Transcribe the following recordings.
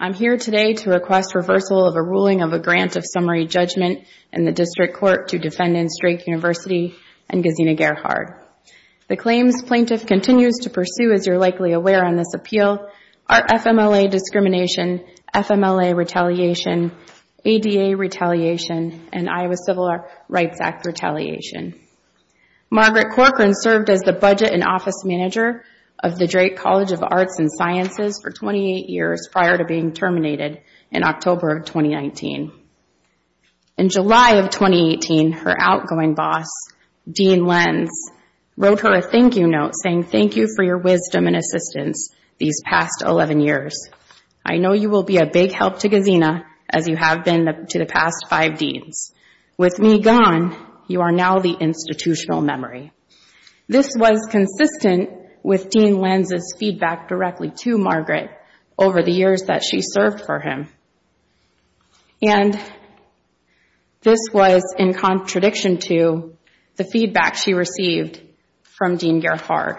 I'm here today to request reversal of a ruling of a grant of summary judgment in the District Court to defendants Drake University and Gesine Gerhard. The claims plaintiff continues to pursue, as you're likely aware on this appeal, are FMLA discrimination, FMLA retaliation, ADA retaliation, and Iowa Civil Rights Act retaliation. Margaret Corkrean served as the defense's for 28 years prior to being terminated in October of 2019. In July of 2018, her outgoing boss, Dean Lenz, wrote her a thank you note saying, thank you for your wisdom and assistance these past 11 years. I know you will be a big help to Gesine as you have been to the past five deans. With me gone, you are now the institutional memory. This was consistent with Dean Lenz's feedback directly to Margaret over the years that she served for him. And this was in contradiction to the feedback she received from Dean Gerhard.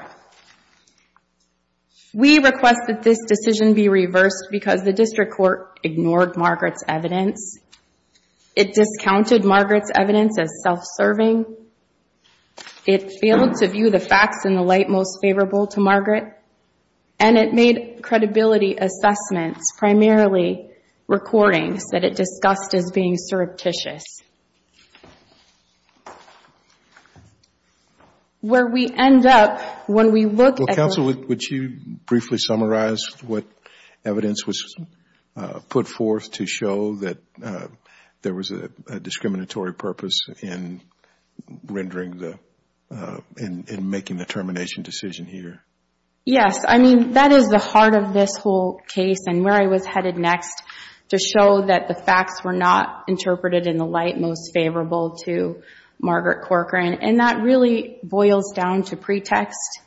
We request that this decision be reversed because the District Court ignored Margaret's evidence. It discounted Margaret's evidence as self-serving. It failed to view the facts in the light most favorable to Margaret. And it made credibility assessments, primarily recordings that it discussed as being surreptitious. Well, counsel, would you briefly summarize what evidence was put forth to show that there was a discriminatory purpose in rendering the, in making the termination decision here? Yes. I mean, that is the heart of this whole case and where I was headed next to show that the facts were not interpreted in the light most favorable to Margaret Corcoran. And that really boils down to pretext.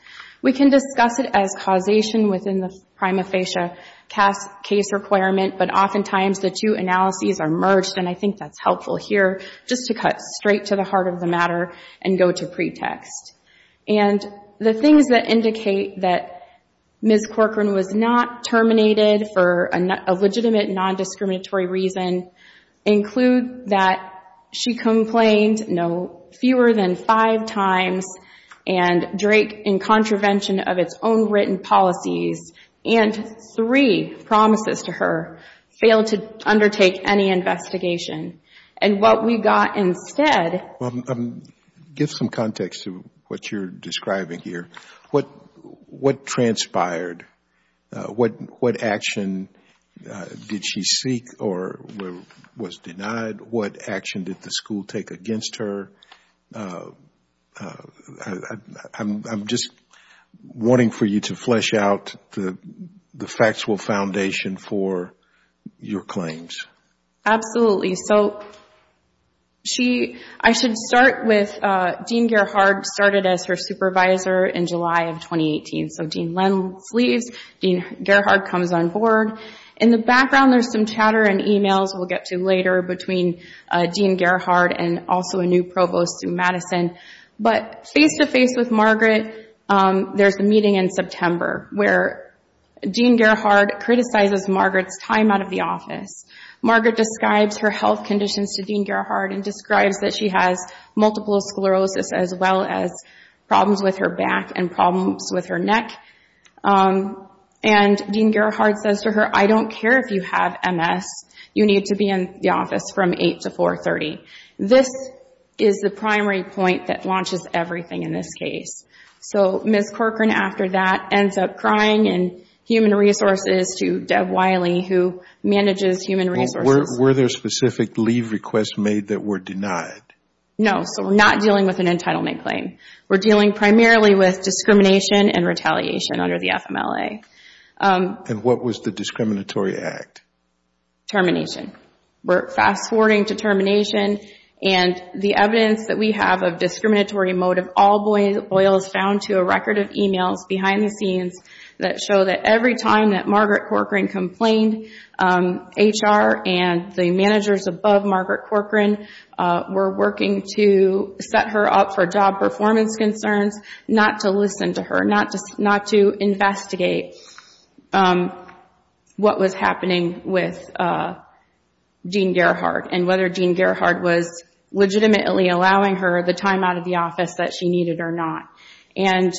We can discuss it as causation within the prima facie case requirement, but oftentimes the two analyses are merged. And I think that's helpful here just to cut straight to the heart of the matter and go to pretext. And the things that indicate that Ms. Corcoran was not terminated for a legitimate non-discriminatory reason include that she complained no fewer than five times and Drake in contravention of its own written policies and three promises to her failed to undertake any investigation. And what we got instead... Give some context to what you're describing here. What transpired? What action did she seek or was denied? What action did the school take against her? I'm just, I don't want to wanting for you to flesh out the factual foundation for your claims. Absolutely. So, I should start with Dean Gerhardt started as her supervisor in July of 2018. So Dean Lenz leaves, Dean Gerhardt comes on board. In the background, there's some chatter and emails we'll get to later between Dean Gerhardt and also a new provost through Madison. But face-to-face with Margaret, there's a meeting in September where Dean Gerhardt criticizes Margaret's time out of the office. Margaret describes her health conditions to Dean Gerhardt and describes that she has multiple sclerosis as well as problems with her back and problems with her neck. And Dean Gerhardt says to her, I don't care if you have MS, you need to be in the office from 8 to 4.30. This is the primary point that launches everything in this case. So Ms. Corcoran after that ends up crying and human resources to Deb Wiley who manages human resources. Were there specific leave requests made that were denied? No. So we're not dealing with an entitlement claim. We're dealing primarily with discrimination and retaliation under the FMLA. And what was the discriminatory act? Termination. We're fast-forwarding to termination and the evidence that we have of discriminatory motive all boils down to a record of emails behind the scenes that show that every time that Margaret Corcoran complained, HR and the managers above Margaret Corcoran were working to set her up for job performance concerns, not to listen to her, not to investigate what was happening with Dean Gerhardt and whether Dean Gerhardt was legitimately allowing her the time out of the office that she needed or not. And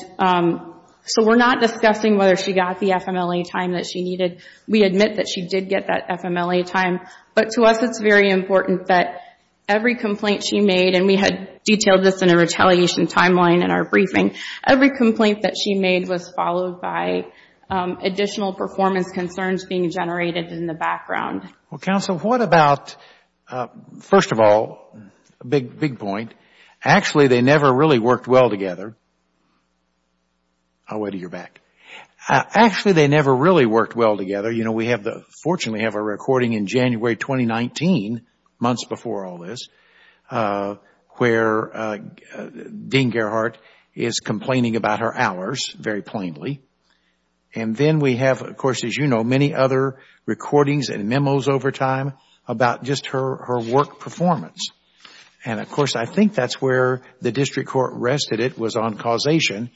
so we're not discussing whether she got the FMLA time that she needed. We admit that she did get that FMLA time, but to us it's very important that every complaint she made and we had detailed this in a retaliation timeline in our briefing, every complaint that she made was followed by additional performance concerns being generated in the background. Well, counsel, what about, first of all, a big point, actually they never really worked well together. I'll wait until you're back. Actually they never really worked well together. We fortunately have a recording in January 2019, months before all this, where Dean Gerhardt is complaining about her hours, very plainly. And then we have, of course, as you know, many other recordings and memos over time about just her work performance. And of course, I think that's where the district court rested it was on causation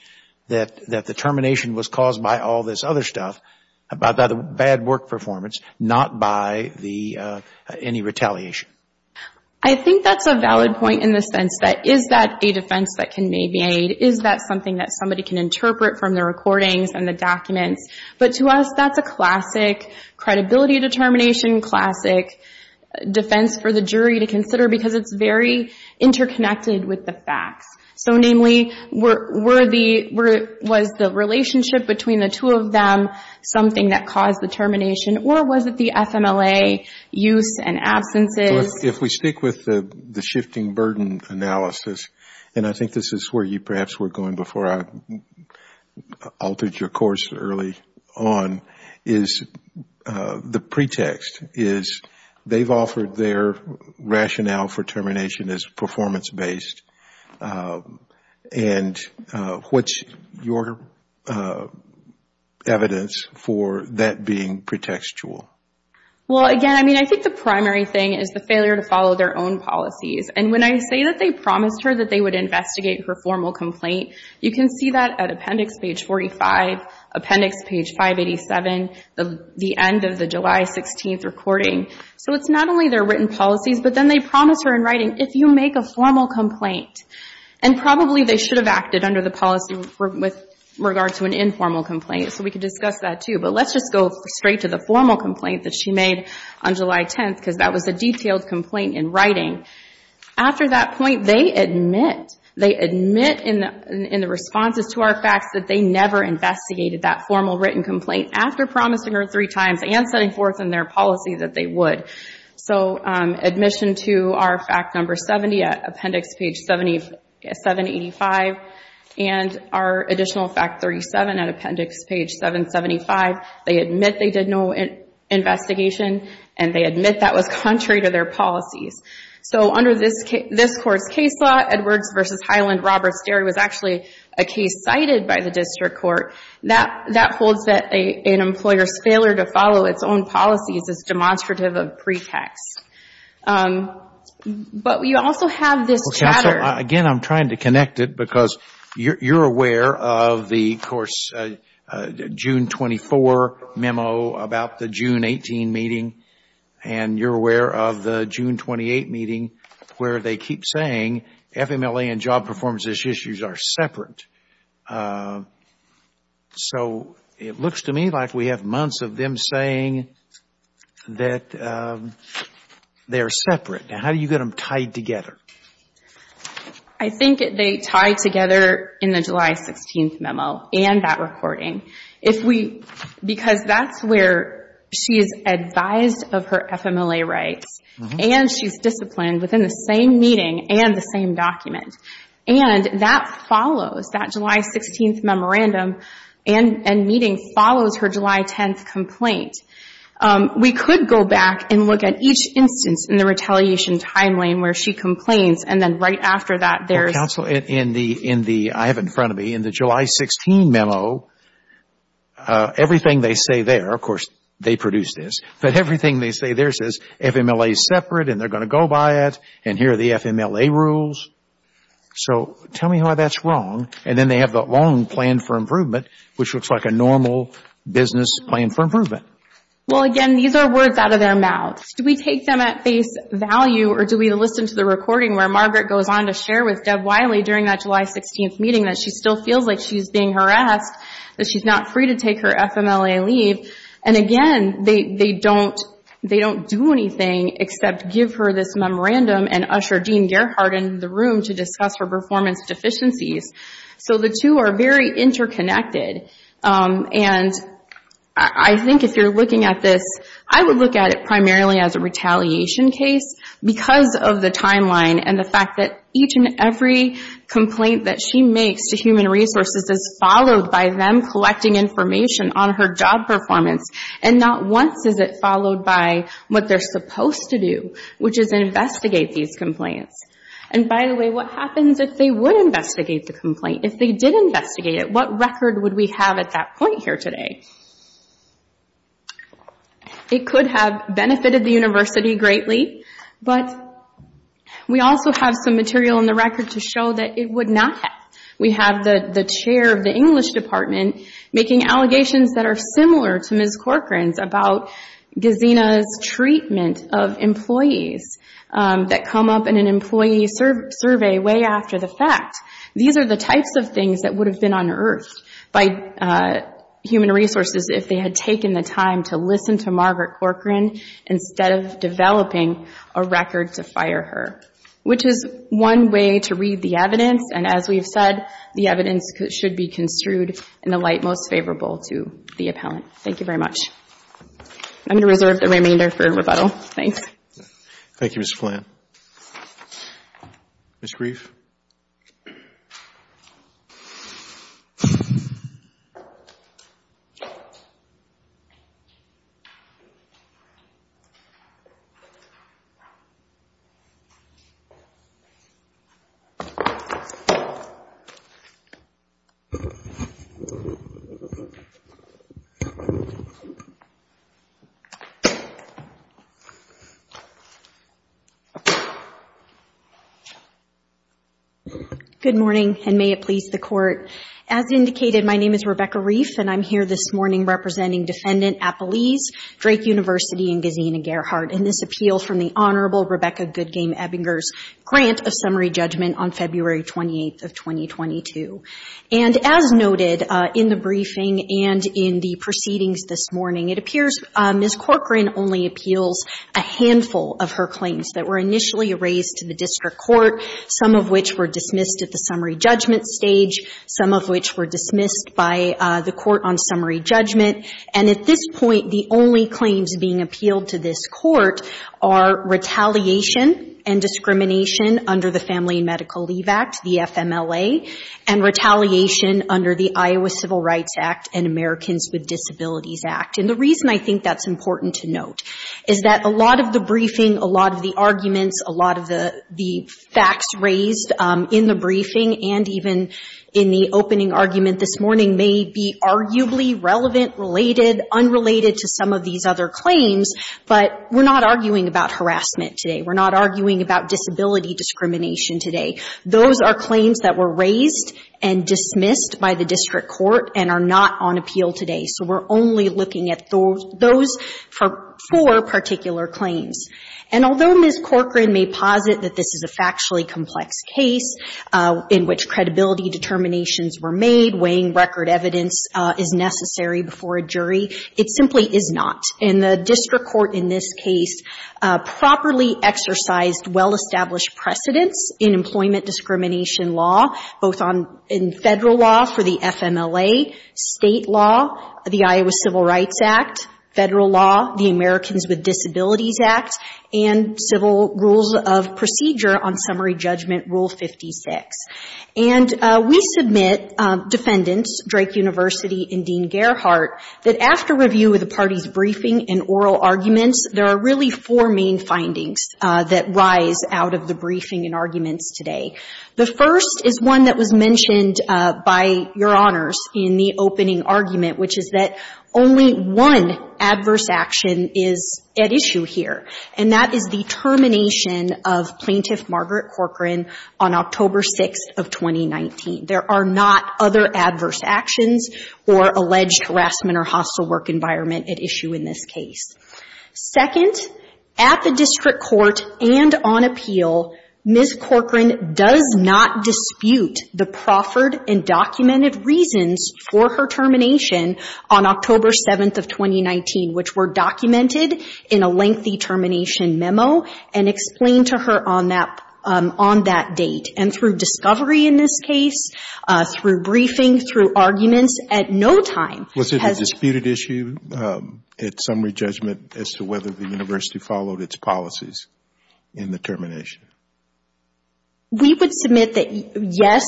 that the termination was caused by all this other stuff, by the bad work performance, not by any retaliation. I think that's a valid point in the sense that is that a defense that can maybe aid, is that something that somebody can interpret from the recordings and the documents? But to us, that's a classic credibility determination, classic defense for the jury to consider because it's very interconnected with the facts. So namely, was the relationship between the two of them something that caused the termination or was it the FMLA use and absences? If we stick with the shifting burden analysis, and I think this is where you perhaps were going before I altered your course early on, is the pretext is they've offered their rationale for termination as performance based. And what's your evidence for that being pretextual? Again, I think the primary thing is the failure to follow their own policies. And when I say that they promised her that they would investigate her formal complaint, you can see that at appendix page 45, appendix page 587, the end of the July 16th recording. So it's not only their written policies, but then they promise her in writing, if you make a formal complaint, and probably they should have acted under the policy with regard to an informal complaint, so we can discuss that too. But let's just go straight to the formal complaint that she made on July 10th because that was a detailed complaint in writing. After that point, they admit in the responses to our facts that they never investigated that formal written complaint after promising her three times and setting forth in their policy that they would. So our additional fact 37 at appendix page 775, they admit they did no investigation and they admit that was contrary to their policies. So under this court's case law, Edwards v. Hyland, Roberts-Derry was actually a case cited by the district court. That holds that an employer's failure to follow its own policies is demonstrative of pretext. But we also have this chatter. Again, I'm trying to connect it because you're aware of the course June 24 memo about the June 18 meeting and you're aware of the June 28 meeting where they keep saying FMLA and job performance issues are separate. So it looks to me like we have months of them saying that they are separate. Now, how do you get them tied together? I think they tie together in the July 16th memo and that recording. Because that's where she is advised of her FMLA rights and she's disciplined within the same meeting and the same document. And that follows, that July 16th memorandum and meeting follows her July 10th complaint. We could go back and look at each instance in the retaliation timeline where she complains and then right after that there's Counsel, in the, in the, I have it in front of me, in the July 16 memo, everything they say there, of course they produced this, but everything they say there says FMLA is separate and they're going to go by it and here are the FMLA rules. So tell me why that's wrong. And then they have that long plan for improvement, which looks like a normal business plan for improvement. Well, again, these are words out of their mouths. Do we take them at face value or do we listen to the recording where Margaret goes on to share with Deb Wiley during that July 16th meeting that she still feels like she's being harassed, that she's not free to take her FMLA leave. And again, they don't, they don't do anything except give her this So the two are very interconnected. And I think if you're looking at this, I would look at it primarily as a retaliation case because of the timeline and the fact that each and every complaint that she makes to Human Resources is followed by them collecting information on her job performance and not once is it followed by what they're supposed to do, which is investigate these complaints. And by the way, what happens if they would investigate the complaint? If they did investigate it, what record would we have at that point here today? It could have benefited the university greatly, but we also have some material in the record to show that it would not have. We have the chair of the English department making allegations that are similar to Ms. Corcoran's about Gesina's treatment of employees that come up in an interview. These are the types of things that would have been unearthed by Human Resources if they had taken the time to listen to Margaret Corcoran instead of developing a record to fire her, which is one way to read the evidence. And as we've said, the evidence should be construed in the light most favorable to the appellant. Thank you very much. I'm going to reserve the remainder for rebuttal. Thanks. Thank you, Mr. Flann. Ms. Grief? Good morning, and may it please the Court. As indicated, my name is Rebecca Grief, and I'm here this morning representing Defendant Appelese, Drake University, and Gesina Gerhart in this appeal from the Honorable Rebecca Goodgame Ebbinger's grant of summary judgment on February 28th of 2022. And as noted in the briefing and in the proceedings this morning, it appears Ms. Corcoran only appeals a handful of her claims that were initially raised to the district court, some of which were dismissed at the summary judgment stage, some of which were dismissed by the Court on Summary Judgment. And at this point, the only claims being appealed to this Court are retaliation and discrimination under the Family and Medical Leave Act, the FMLA, and retaliation under the Iowa Civil Rights Act and Americans with Disabilities Act. And the reason I think that's important to note is that a lot of the briefing, a lot of the arguments, a lot of the facts raised in the briefing and even in the opening argument this morning may be arguably relevant, related, unrelated to some of these other claims, but we're not arguing about harassment today. We're not arguing about disability discrimination today. Those are claims that were raised and dismissed by the district court and are not on appeal today. So we're only looking at those four particular claims. And although Ms. Corcoran may posit that this is a factually complex case in which credibility determinations were made, weighing record evidence is necessary before a jury, it simply is not. And the district court in this case properly exercised well-established precedents in employment discrimination law, both in federal law for the FMLA, state law, the Iowa Civil Rights Act, federal law, the Americans with Disabilities Act, and civil rules of procedure on Summary Judgment Rule 56. And we submit defendants, Drake University and Dean Gerhart, that after review of the party's briefing and oral arguments, there are really four main findings that rise out of the briefing and arguments today. The first is one that was mentioned by Your Honors in the opening argument, which is that only one adverse action is at issue here, and that is the termination of Plaintiff Margaret Corcoran on October 6th of 2019. There are not other adverse actions or alleged harassment or hostile work environment at issue in this case. Second, at the district court and on appeal, Ms. Corcoran does not dispute the proffered and documented reasons for her termination on October 7th of 2019, which were documented in a lengthy termination memo and explained to her on that date. And through discovery in this case, through briefing, through arguments, at no time has the plaintiff's argument as to whether the university followed its policies in the termination. We would submit that, yes,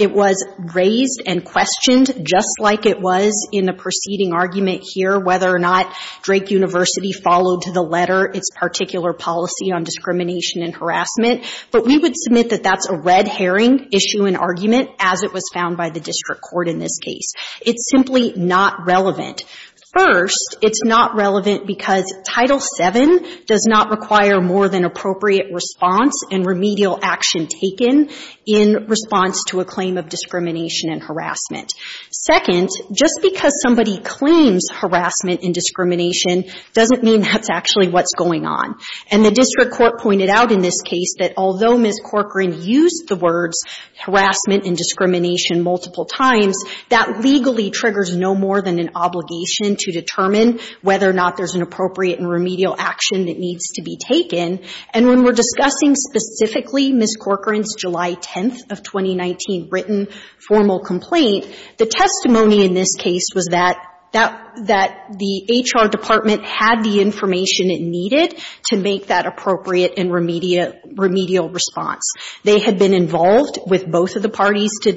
it was raised and questioned, just like it was in the preceding argument here, whether or not Drake University followed to the letter its particular policy on discrimination and harassment. But we would submit that that's a red herring issue and argument, as it was found by the district court in this case. It's simply not relevant. First, it's not relevant because Title VII does not require more than appropriate response and remedial action taken in response to a claim of discrimination and harassment. Second, just because somebody claims harassment and discrimination doesn't mean that's actually what's going on. And the district court pointed out in this case that although Ms. Corcoran used the words harassment and discrimination multiple times, that legally triggers no more than an obligation to determine whether or not there's an appropriate and remedial action that needs to be taken. And when we're discussing specifically Ms. Corcoran's July 10th of 2019 written formal complaint, the testimony in this case was that that the HR department had the information it needed to make that appropriate and remedial response. They had been involved with both of the parties to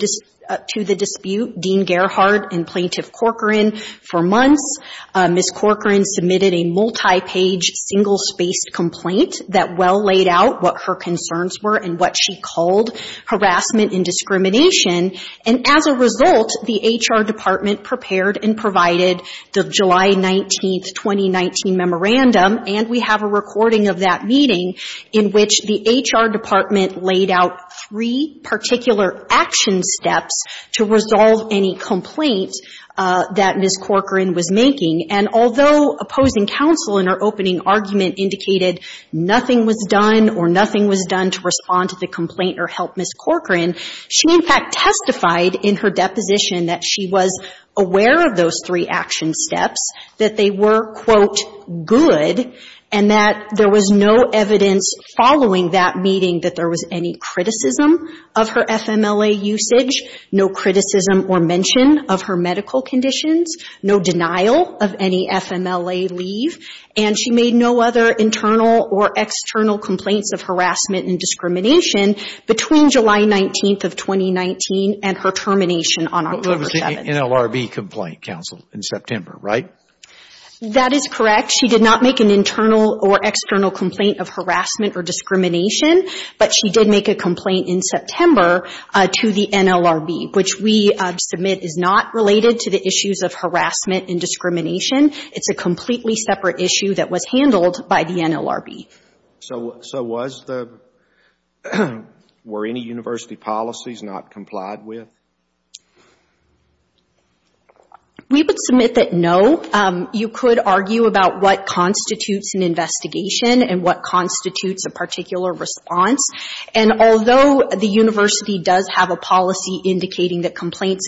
the dispute, Dean Gerhardt and Plaintiff Corcoran, for months. Ms. Corcoran submitted a multi-page single-spaced complaint that well laid out what her concerns were and what she called harassment and discrimination. And as a result, the HR department prepared and provided the July 19th, 2019 memorandum, and we have a recording of that meeting, in which the HR department laid out three particular action steps to resolve any complaint that Ms. Corcoran was making. And although opposing counsel in her opening argument indicated nothing was done or nothing was done to respond to the complaint or help Ms. Corcoran, she in fact testified in her deposition that she was aware of those three action steps, that they were, quote, good, and that there was no evidence following that meeting that there was any criticism of her FMLA usage, no criticism or mention of her medical conditions, no denial of any FMLA leave, and she made no other internal or external complaints of harassment and discrimination between July 19th of 2019 and her termination on October 7th. An NLRB complaint, counsel, in September, right? That is correct. She did not make an internal or external complaint of harassment or discrimination, but she did make a complaint in September to the NLRB, which we submit is not related to the issues of harassment and discrimination. It's a completely separate issue that was handled by the NLRB. So was the, were any university policies not complied with? We would submit that no. You could argue about what constitutes an investigation and what constitutes a particular response, and although the university does have a policy indicating that complaints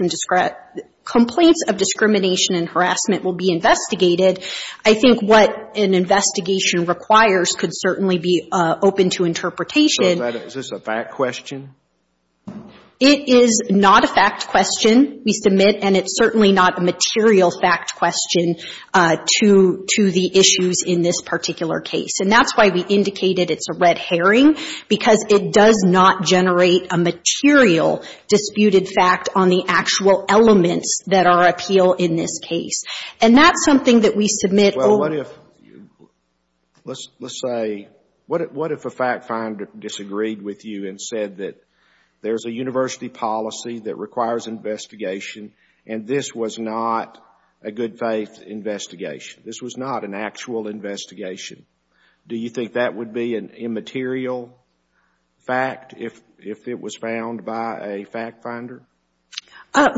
of discrimination and harassment will be investigated, I think what an investigation requires could certainly be open to interpretation. So is this a fact question? It is not a fact question we submit, and it's certainly not a material fact question to the issues in this particular case. And that's why we indicated it's a red herring, because it does not generate a material disputed fact on the actual elements that are appeal in this case. And that's something that we submit over to the NLRB. What if a fact finder disagreed with you and said that there's a university policy that requires investigation and this was not a good faith investigation? This was not an actual investigation. Do you think that would be an immaterial fact if it was found by a fact finder?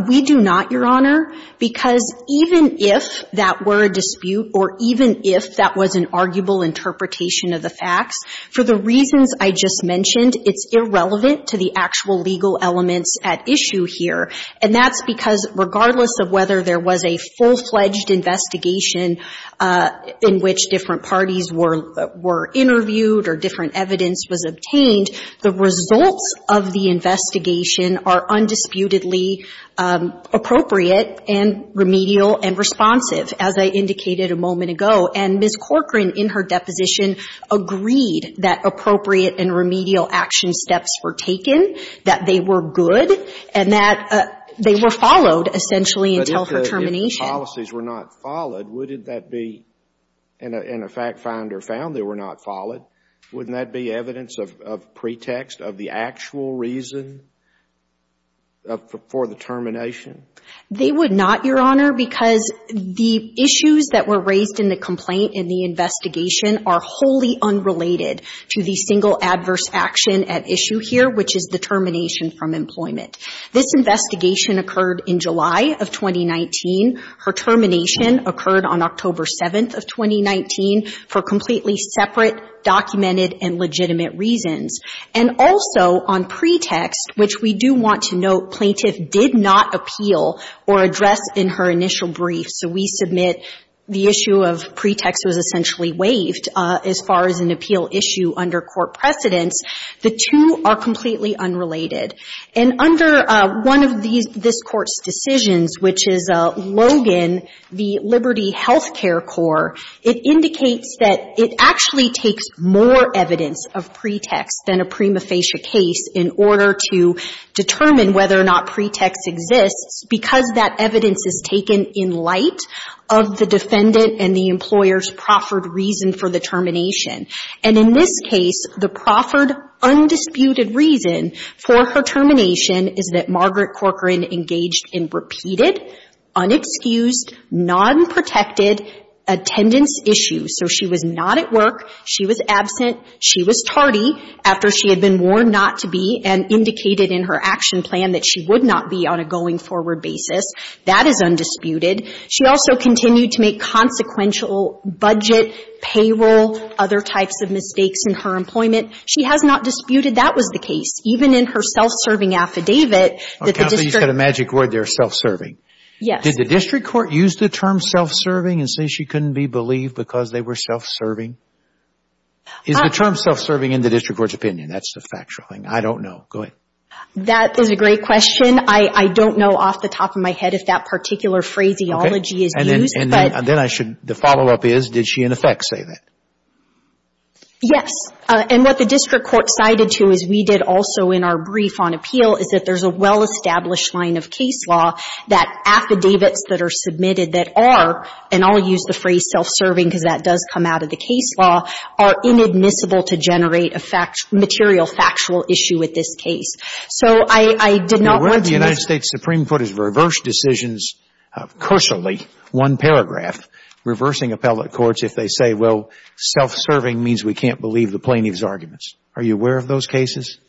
We do not, Your Honor, because even if that were a dispute or even if that was an arguable interpretation of the facts, for the reasons I just mentioned, it's irrelevant to the actual legal elements at issue here. And that's because regardless of whether there was a full-fledged investigation in which different parties were interviewed or different evidence was obtained, the results of the investigation are undisputedly appropriate and remedial and responsive, as I indicated a moment ago. And Ms. Corcoran, in her deposition, agreed that appropriate and remedial action steps were taken, that they were good, and that they were followed essentially until her termination. But if the policies were not followed, would that be, and a fact finder found they were not followed, wouldn't that be evidence of pretext of the actual reason for the termination? They would not, Your Honor, because the issues that were raised in the complaint in the investigation are wholly unrelated to the single adverse action at issue here, which is the termination from employment. This investigation occurred in July of 2019. Her termination occurred on October 7th of 2019 for completely separate, documented, and legitimate reasons. And also on pretext, which we do want to note, plaintiff did not appeal or address in her initial brief. So we submit the issue of pretext was essentially waived as far as an appeal issue under court precedence. The two are completely unrelated. And under one of these, this Court's decisions, which is Logan, the Liberty Health Care Corps, it indicates that it actually takes more evidence of pretext than a prima facie case in order to determine whether or not pretext exists because that evidence is taken in light of the defendant and the employer's proffered reason for the termination. And in this case, the proffered, undisputed reason for her termination is that Margaret Corcoran engaged in repeated, unexcused, nonprotected attendance issues. So she was not at work. She was absent. She was tardy after she had been warned not to be and indicated in her action plan that she would not be on a going-forward basis. That is undisputed. She also continued to She has not disputed that was the case. Even in her self-serving affidavit, that the district Counsel, you said a magic word there, self-serving. Yes. Did the district court use the term self-serving and say she couldn't be believed because they were self-serving? Is the term self-serving in the district court's opinion? That's the factual thing. I don't know. Go ahead. That is a great question. I don't know off the top of my head if that particular phraseology is used, but And then I should, the follow-up is, did she in effect say that? Yes. And what the district court cited to, as we did also in our brief on appeal, is that there's a well-established line of case law that affidavits that are submitted that are, and I'll use the phrase self-serving because that does come out of the case law, are inadmissible to generate a material factual issue with this case. So I did not want to The way the United States Supreme Court has reversed decisions, crucially, one paragraph, reversing appellate courts if they say, well, self-serving means we can't believe the plaintiff's arguments. Are you aware of those cases?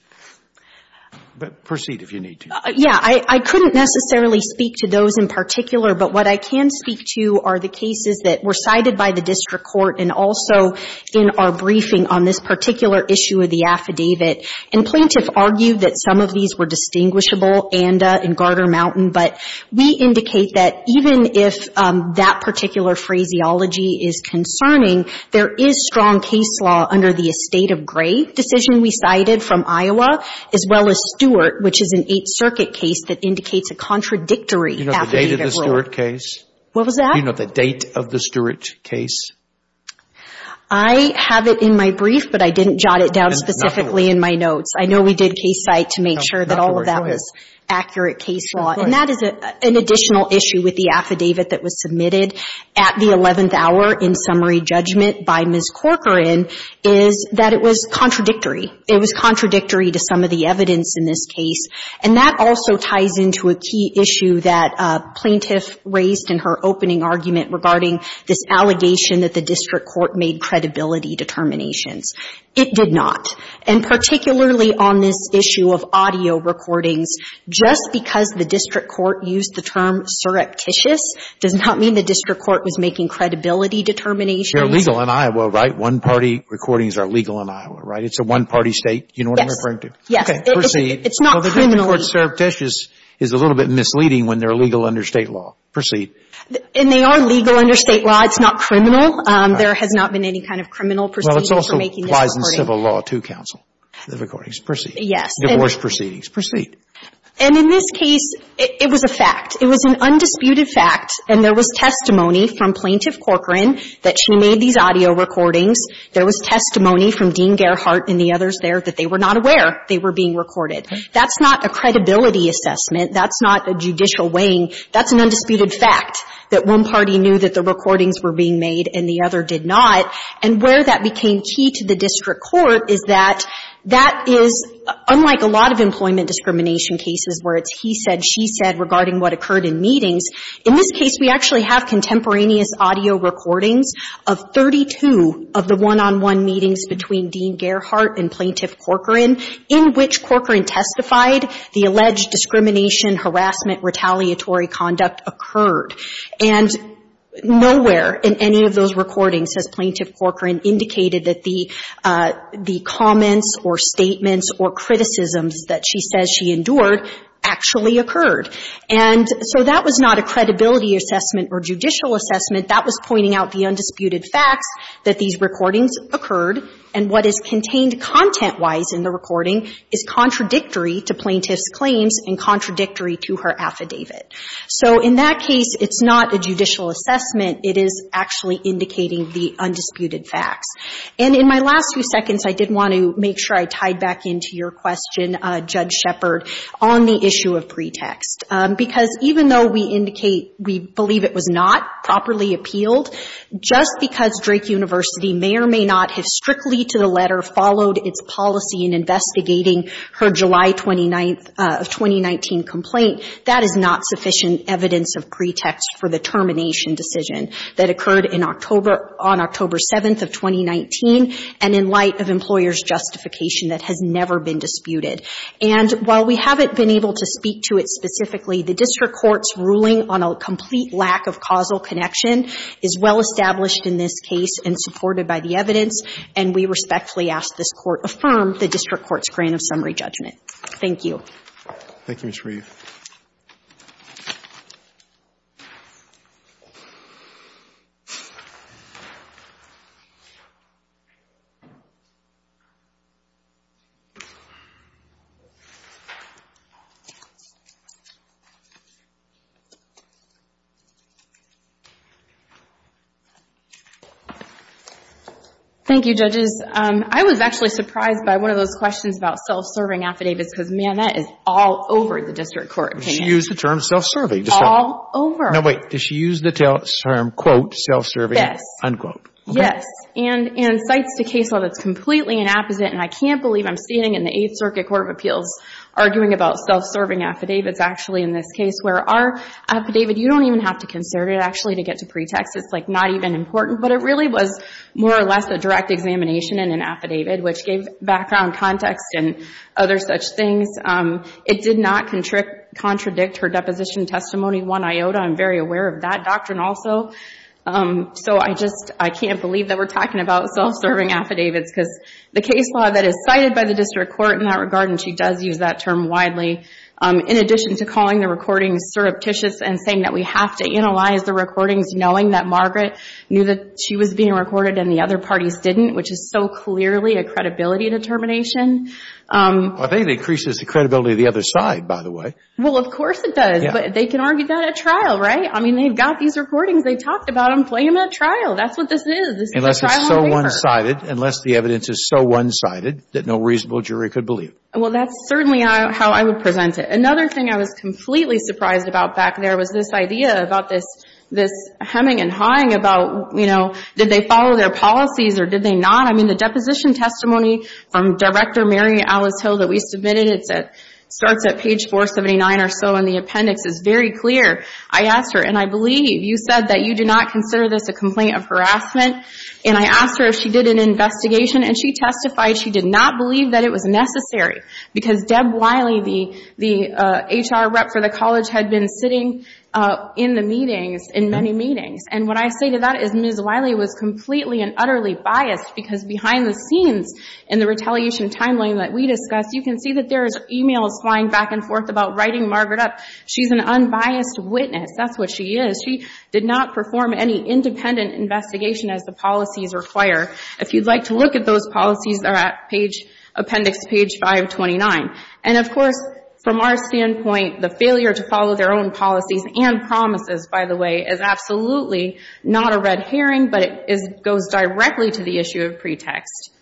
But proceed if you need to. Yeah. I couldn't necessarily speak to those in particular, but what I can speak to are the cases that were cited by the district court and also in our briefing on this particular issue of the affidavit. And plaintiff argued that some of these were distinguishable, ANDA and Garter Mountain, but we indicate that even if that particular phraseology is concerning, there is strong case law under the estate of grave decision we cited from Iowa, as well as Stewart, which is an Eighth Circuit case that indicates a contradictory affidavit rule. Do you know the date of the Stewart case? What was that? Do you know the date of the Stewart case? I have it in my brief, but I didn't jot it down specifically in my notes. I know we did a case site to make sure that all of that was accurate case law. And that is an additional issue with the affidavit that was submitted at the 11th hour in summary judgment by Ms. Corcoran, is that it was contradictory. It was contradictory to some of the evidence in this case. And that also ties into a key issue that plaintiff raised in her opening argument regarding this allegation that the district court made credibility determinations. It did not. And particularly on this issue of audio recordings, just because the district court used the term surreptitious does not mean the district court was making credibility determinations. They're legal in Iowa, right? One-party recordings are legal in Iowa, right? It's a one-party state. Do you know what I'm referring to? Yes. Yes. Okay. Proceed. It's not criminally. Well, the district court surreptitious is a little bit misleading when they're legal under state law. Proceed. And they are legal under state law. It's not criminal. There has not been any kind of criminal proceedings for making this recording. That applies in civil law, too, counsel, the recordings. Proceed. Yes. Divorce proceedings. Proceed. And in this case, it was a fact. It was an undisputed fact. And there was testimony from Plaintiff Corcoran that she made these audio recordings. There was testimony from Dean Gerhart and the others there that they were not aware they were being recorded. That's not a credibility assessment. That's not a judicial weighing. That's an undisputed fact that one party knew that the recordings were being made and the other did not. And where that became key to the district court is that that is, unlike a lot of employment discrimination cases where it's he said, she said regarding what occurred in meetings, in this case, we actually have contemporaneous audio recordings of 32 of the one-on-one meetings between Dean Gerhart and Plaintiff Corcoran in which Corcoran testified the alleged discrimination, harassment, retaliatory conduct occurred. And nowhere in any of those recordings has Plaintiff Corcoran indicated that the comments or statements or criticisms that she says she endured actually occurred. And so that was not a credibility assessment or judicial assessment. That was pointing out the undisputed facts that these recordings occurred. And what is contained content-wise in the recording is contradictory to Plaintiff's It's not a judicial assessment. It is actually indicating the undisputed facts. And in my last few seconds, I did want to make sure I tied back into your question, Judge Shepard, on the issue of pretext. Because even though we indicate we believe it was not properly appealed, just because Drake University may or may not have strictly to the letter followed its policy in investigating her July 29th of 2019 complaint, that is not sufficient evidence of pretext for the termination decision that occurred in October — on October 7th of 2019 and in light of employers' justification that has never been disputed. And while we haven't been able to speak to it specifically, the district court's ruling on a complete lack of causal connection is well established in this case and supported by the evidence, and we respectfully ask this Court affirm the district court's grant of summary judgment. Thank you. Thank you, Ms. Reeve. Thank you, Judges. I was actually surprised by one of those questions about self-serving affidavits because, man, that is all over the district court opinion. Did she use the term self-serving? All over. No, wait. Did she use the term, quote, self-serving? Yes. Unquote. Yes. And cites the case law that's completely inapposite, and I can't believe I'm standing in the Eighth Circuit Court of Appeals arguing about self-serving affidavits, actually, in this case, where our affidavit — you don't even have to conserve it, actually, to get to pretext. It's, like, not even important. But it really was more or less a direct examination in an affidavit, which gave background context and other such things. It did not contradict her deposition testimony, one iota. I'm very aware of that doctrine also. So I just — I can't believe that we're talking about self-serving affidavits, because the case law that is cited by the district court in that regard, and she does use that term widely, in addition to calling the recording surreptitious and saying that we have to analyze the recordings, knowing that Margaret knew that she was being recorded and the other parties didn't, which is so clearly a credibility determination. Well, I think it increases the credibility of the other side, by the way. Well, of course it does. But they can argue that at trial, right? I mean, they've got these recordings. They talked about them playing them at trial. That's what this is. This is a trial on paper. Unless it's so one-sided, unless the evidence is so one-sided, that no reasonable jury could believe. Well, that's certainly how I would present it. Another thing I was completely surprised about back there was this idea about this — this hemming and hawing about, you know, did they follow their policies or did they not? I mean, the deposition testimony from Director Mary Alice Hill that we submitted, it starts at page 479 or so, and the appendix is very clear. I asked her, and I believe you said that you do not consider this a complaint of harassment. And I asked her if she did an investigation, and she testified she did not believe that it was necessary, because Deb Wiley, the HR rep for the college, had been sitting in the meetings, in many meetings. And what I say to that is Ms. Wiley was completely and utterly biased, because behind the scenes in the retaliation timeline that we discussed, you can see that there is emails flying back and forth about writing Margaret up. She's an unbiased witness. That's what she is. She did not perform any independent investigation as the policies require. If you'd like to look at those policies, they're at appendix page 529. And of course, from our standpoint, the failure to follow their own policies and promises, by the way, is absolutely not a red herring, but it goes directly to the issue of pretext.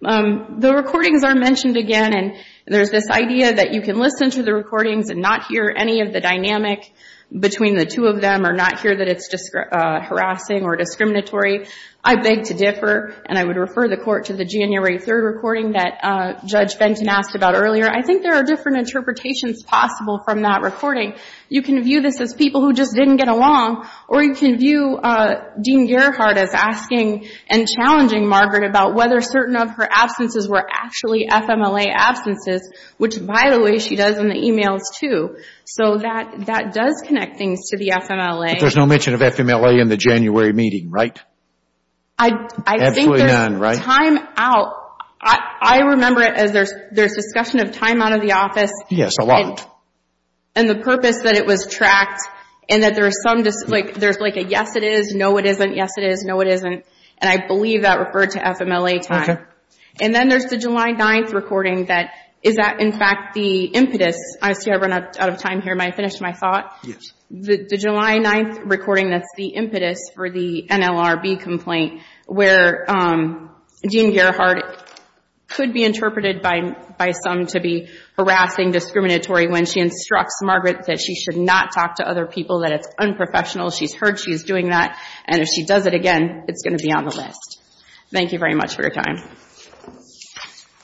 The recordings are mentioned again, and there's this idea that you can listen to the recordings and not hear any of the dynamic between the two of them or not hear that it's harassing or discriminatory. I beg to differ, and I would refer the Court to the January 3rd Judge Fenton asked about earlier. I think there are different interpretations possible from that recording. You can view this as people who just didn't get along, or you can view Dean Gerhardt as asking and challenging Margaret about whether certain of her absences were actually FMLA absences, which, by the way, she does in the emails, too. So that does connect things to the FMLA. But there's no mention of FMLA in the January meeting, right? Absolutely none, right? Time out, I remember it as there's discussion of time out of the office. Yes, a lot. And the purpose that it was tracked, and that there's like a yes, it is, no, it isn't, yes, it is, no, it isn't. And I believe that referred to FMLA time. And then there's the July 9th recording that is that, in fact, the impetus. I see I've run out of time here. May I finish my thought? Yes. The July 9th recording that's the impetus for the NLRB complaint where Dean Gerhardt could be interpreted by some to be harassing, discriminatory, when she instructs Margaret that she should not talk to other people, that it's unprofessional. She's heard she's doing that. And if she does it again, it's going to be on the list. Thank you very much for your time.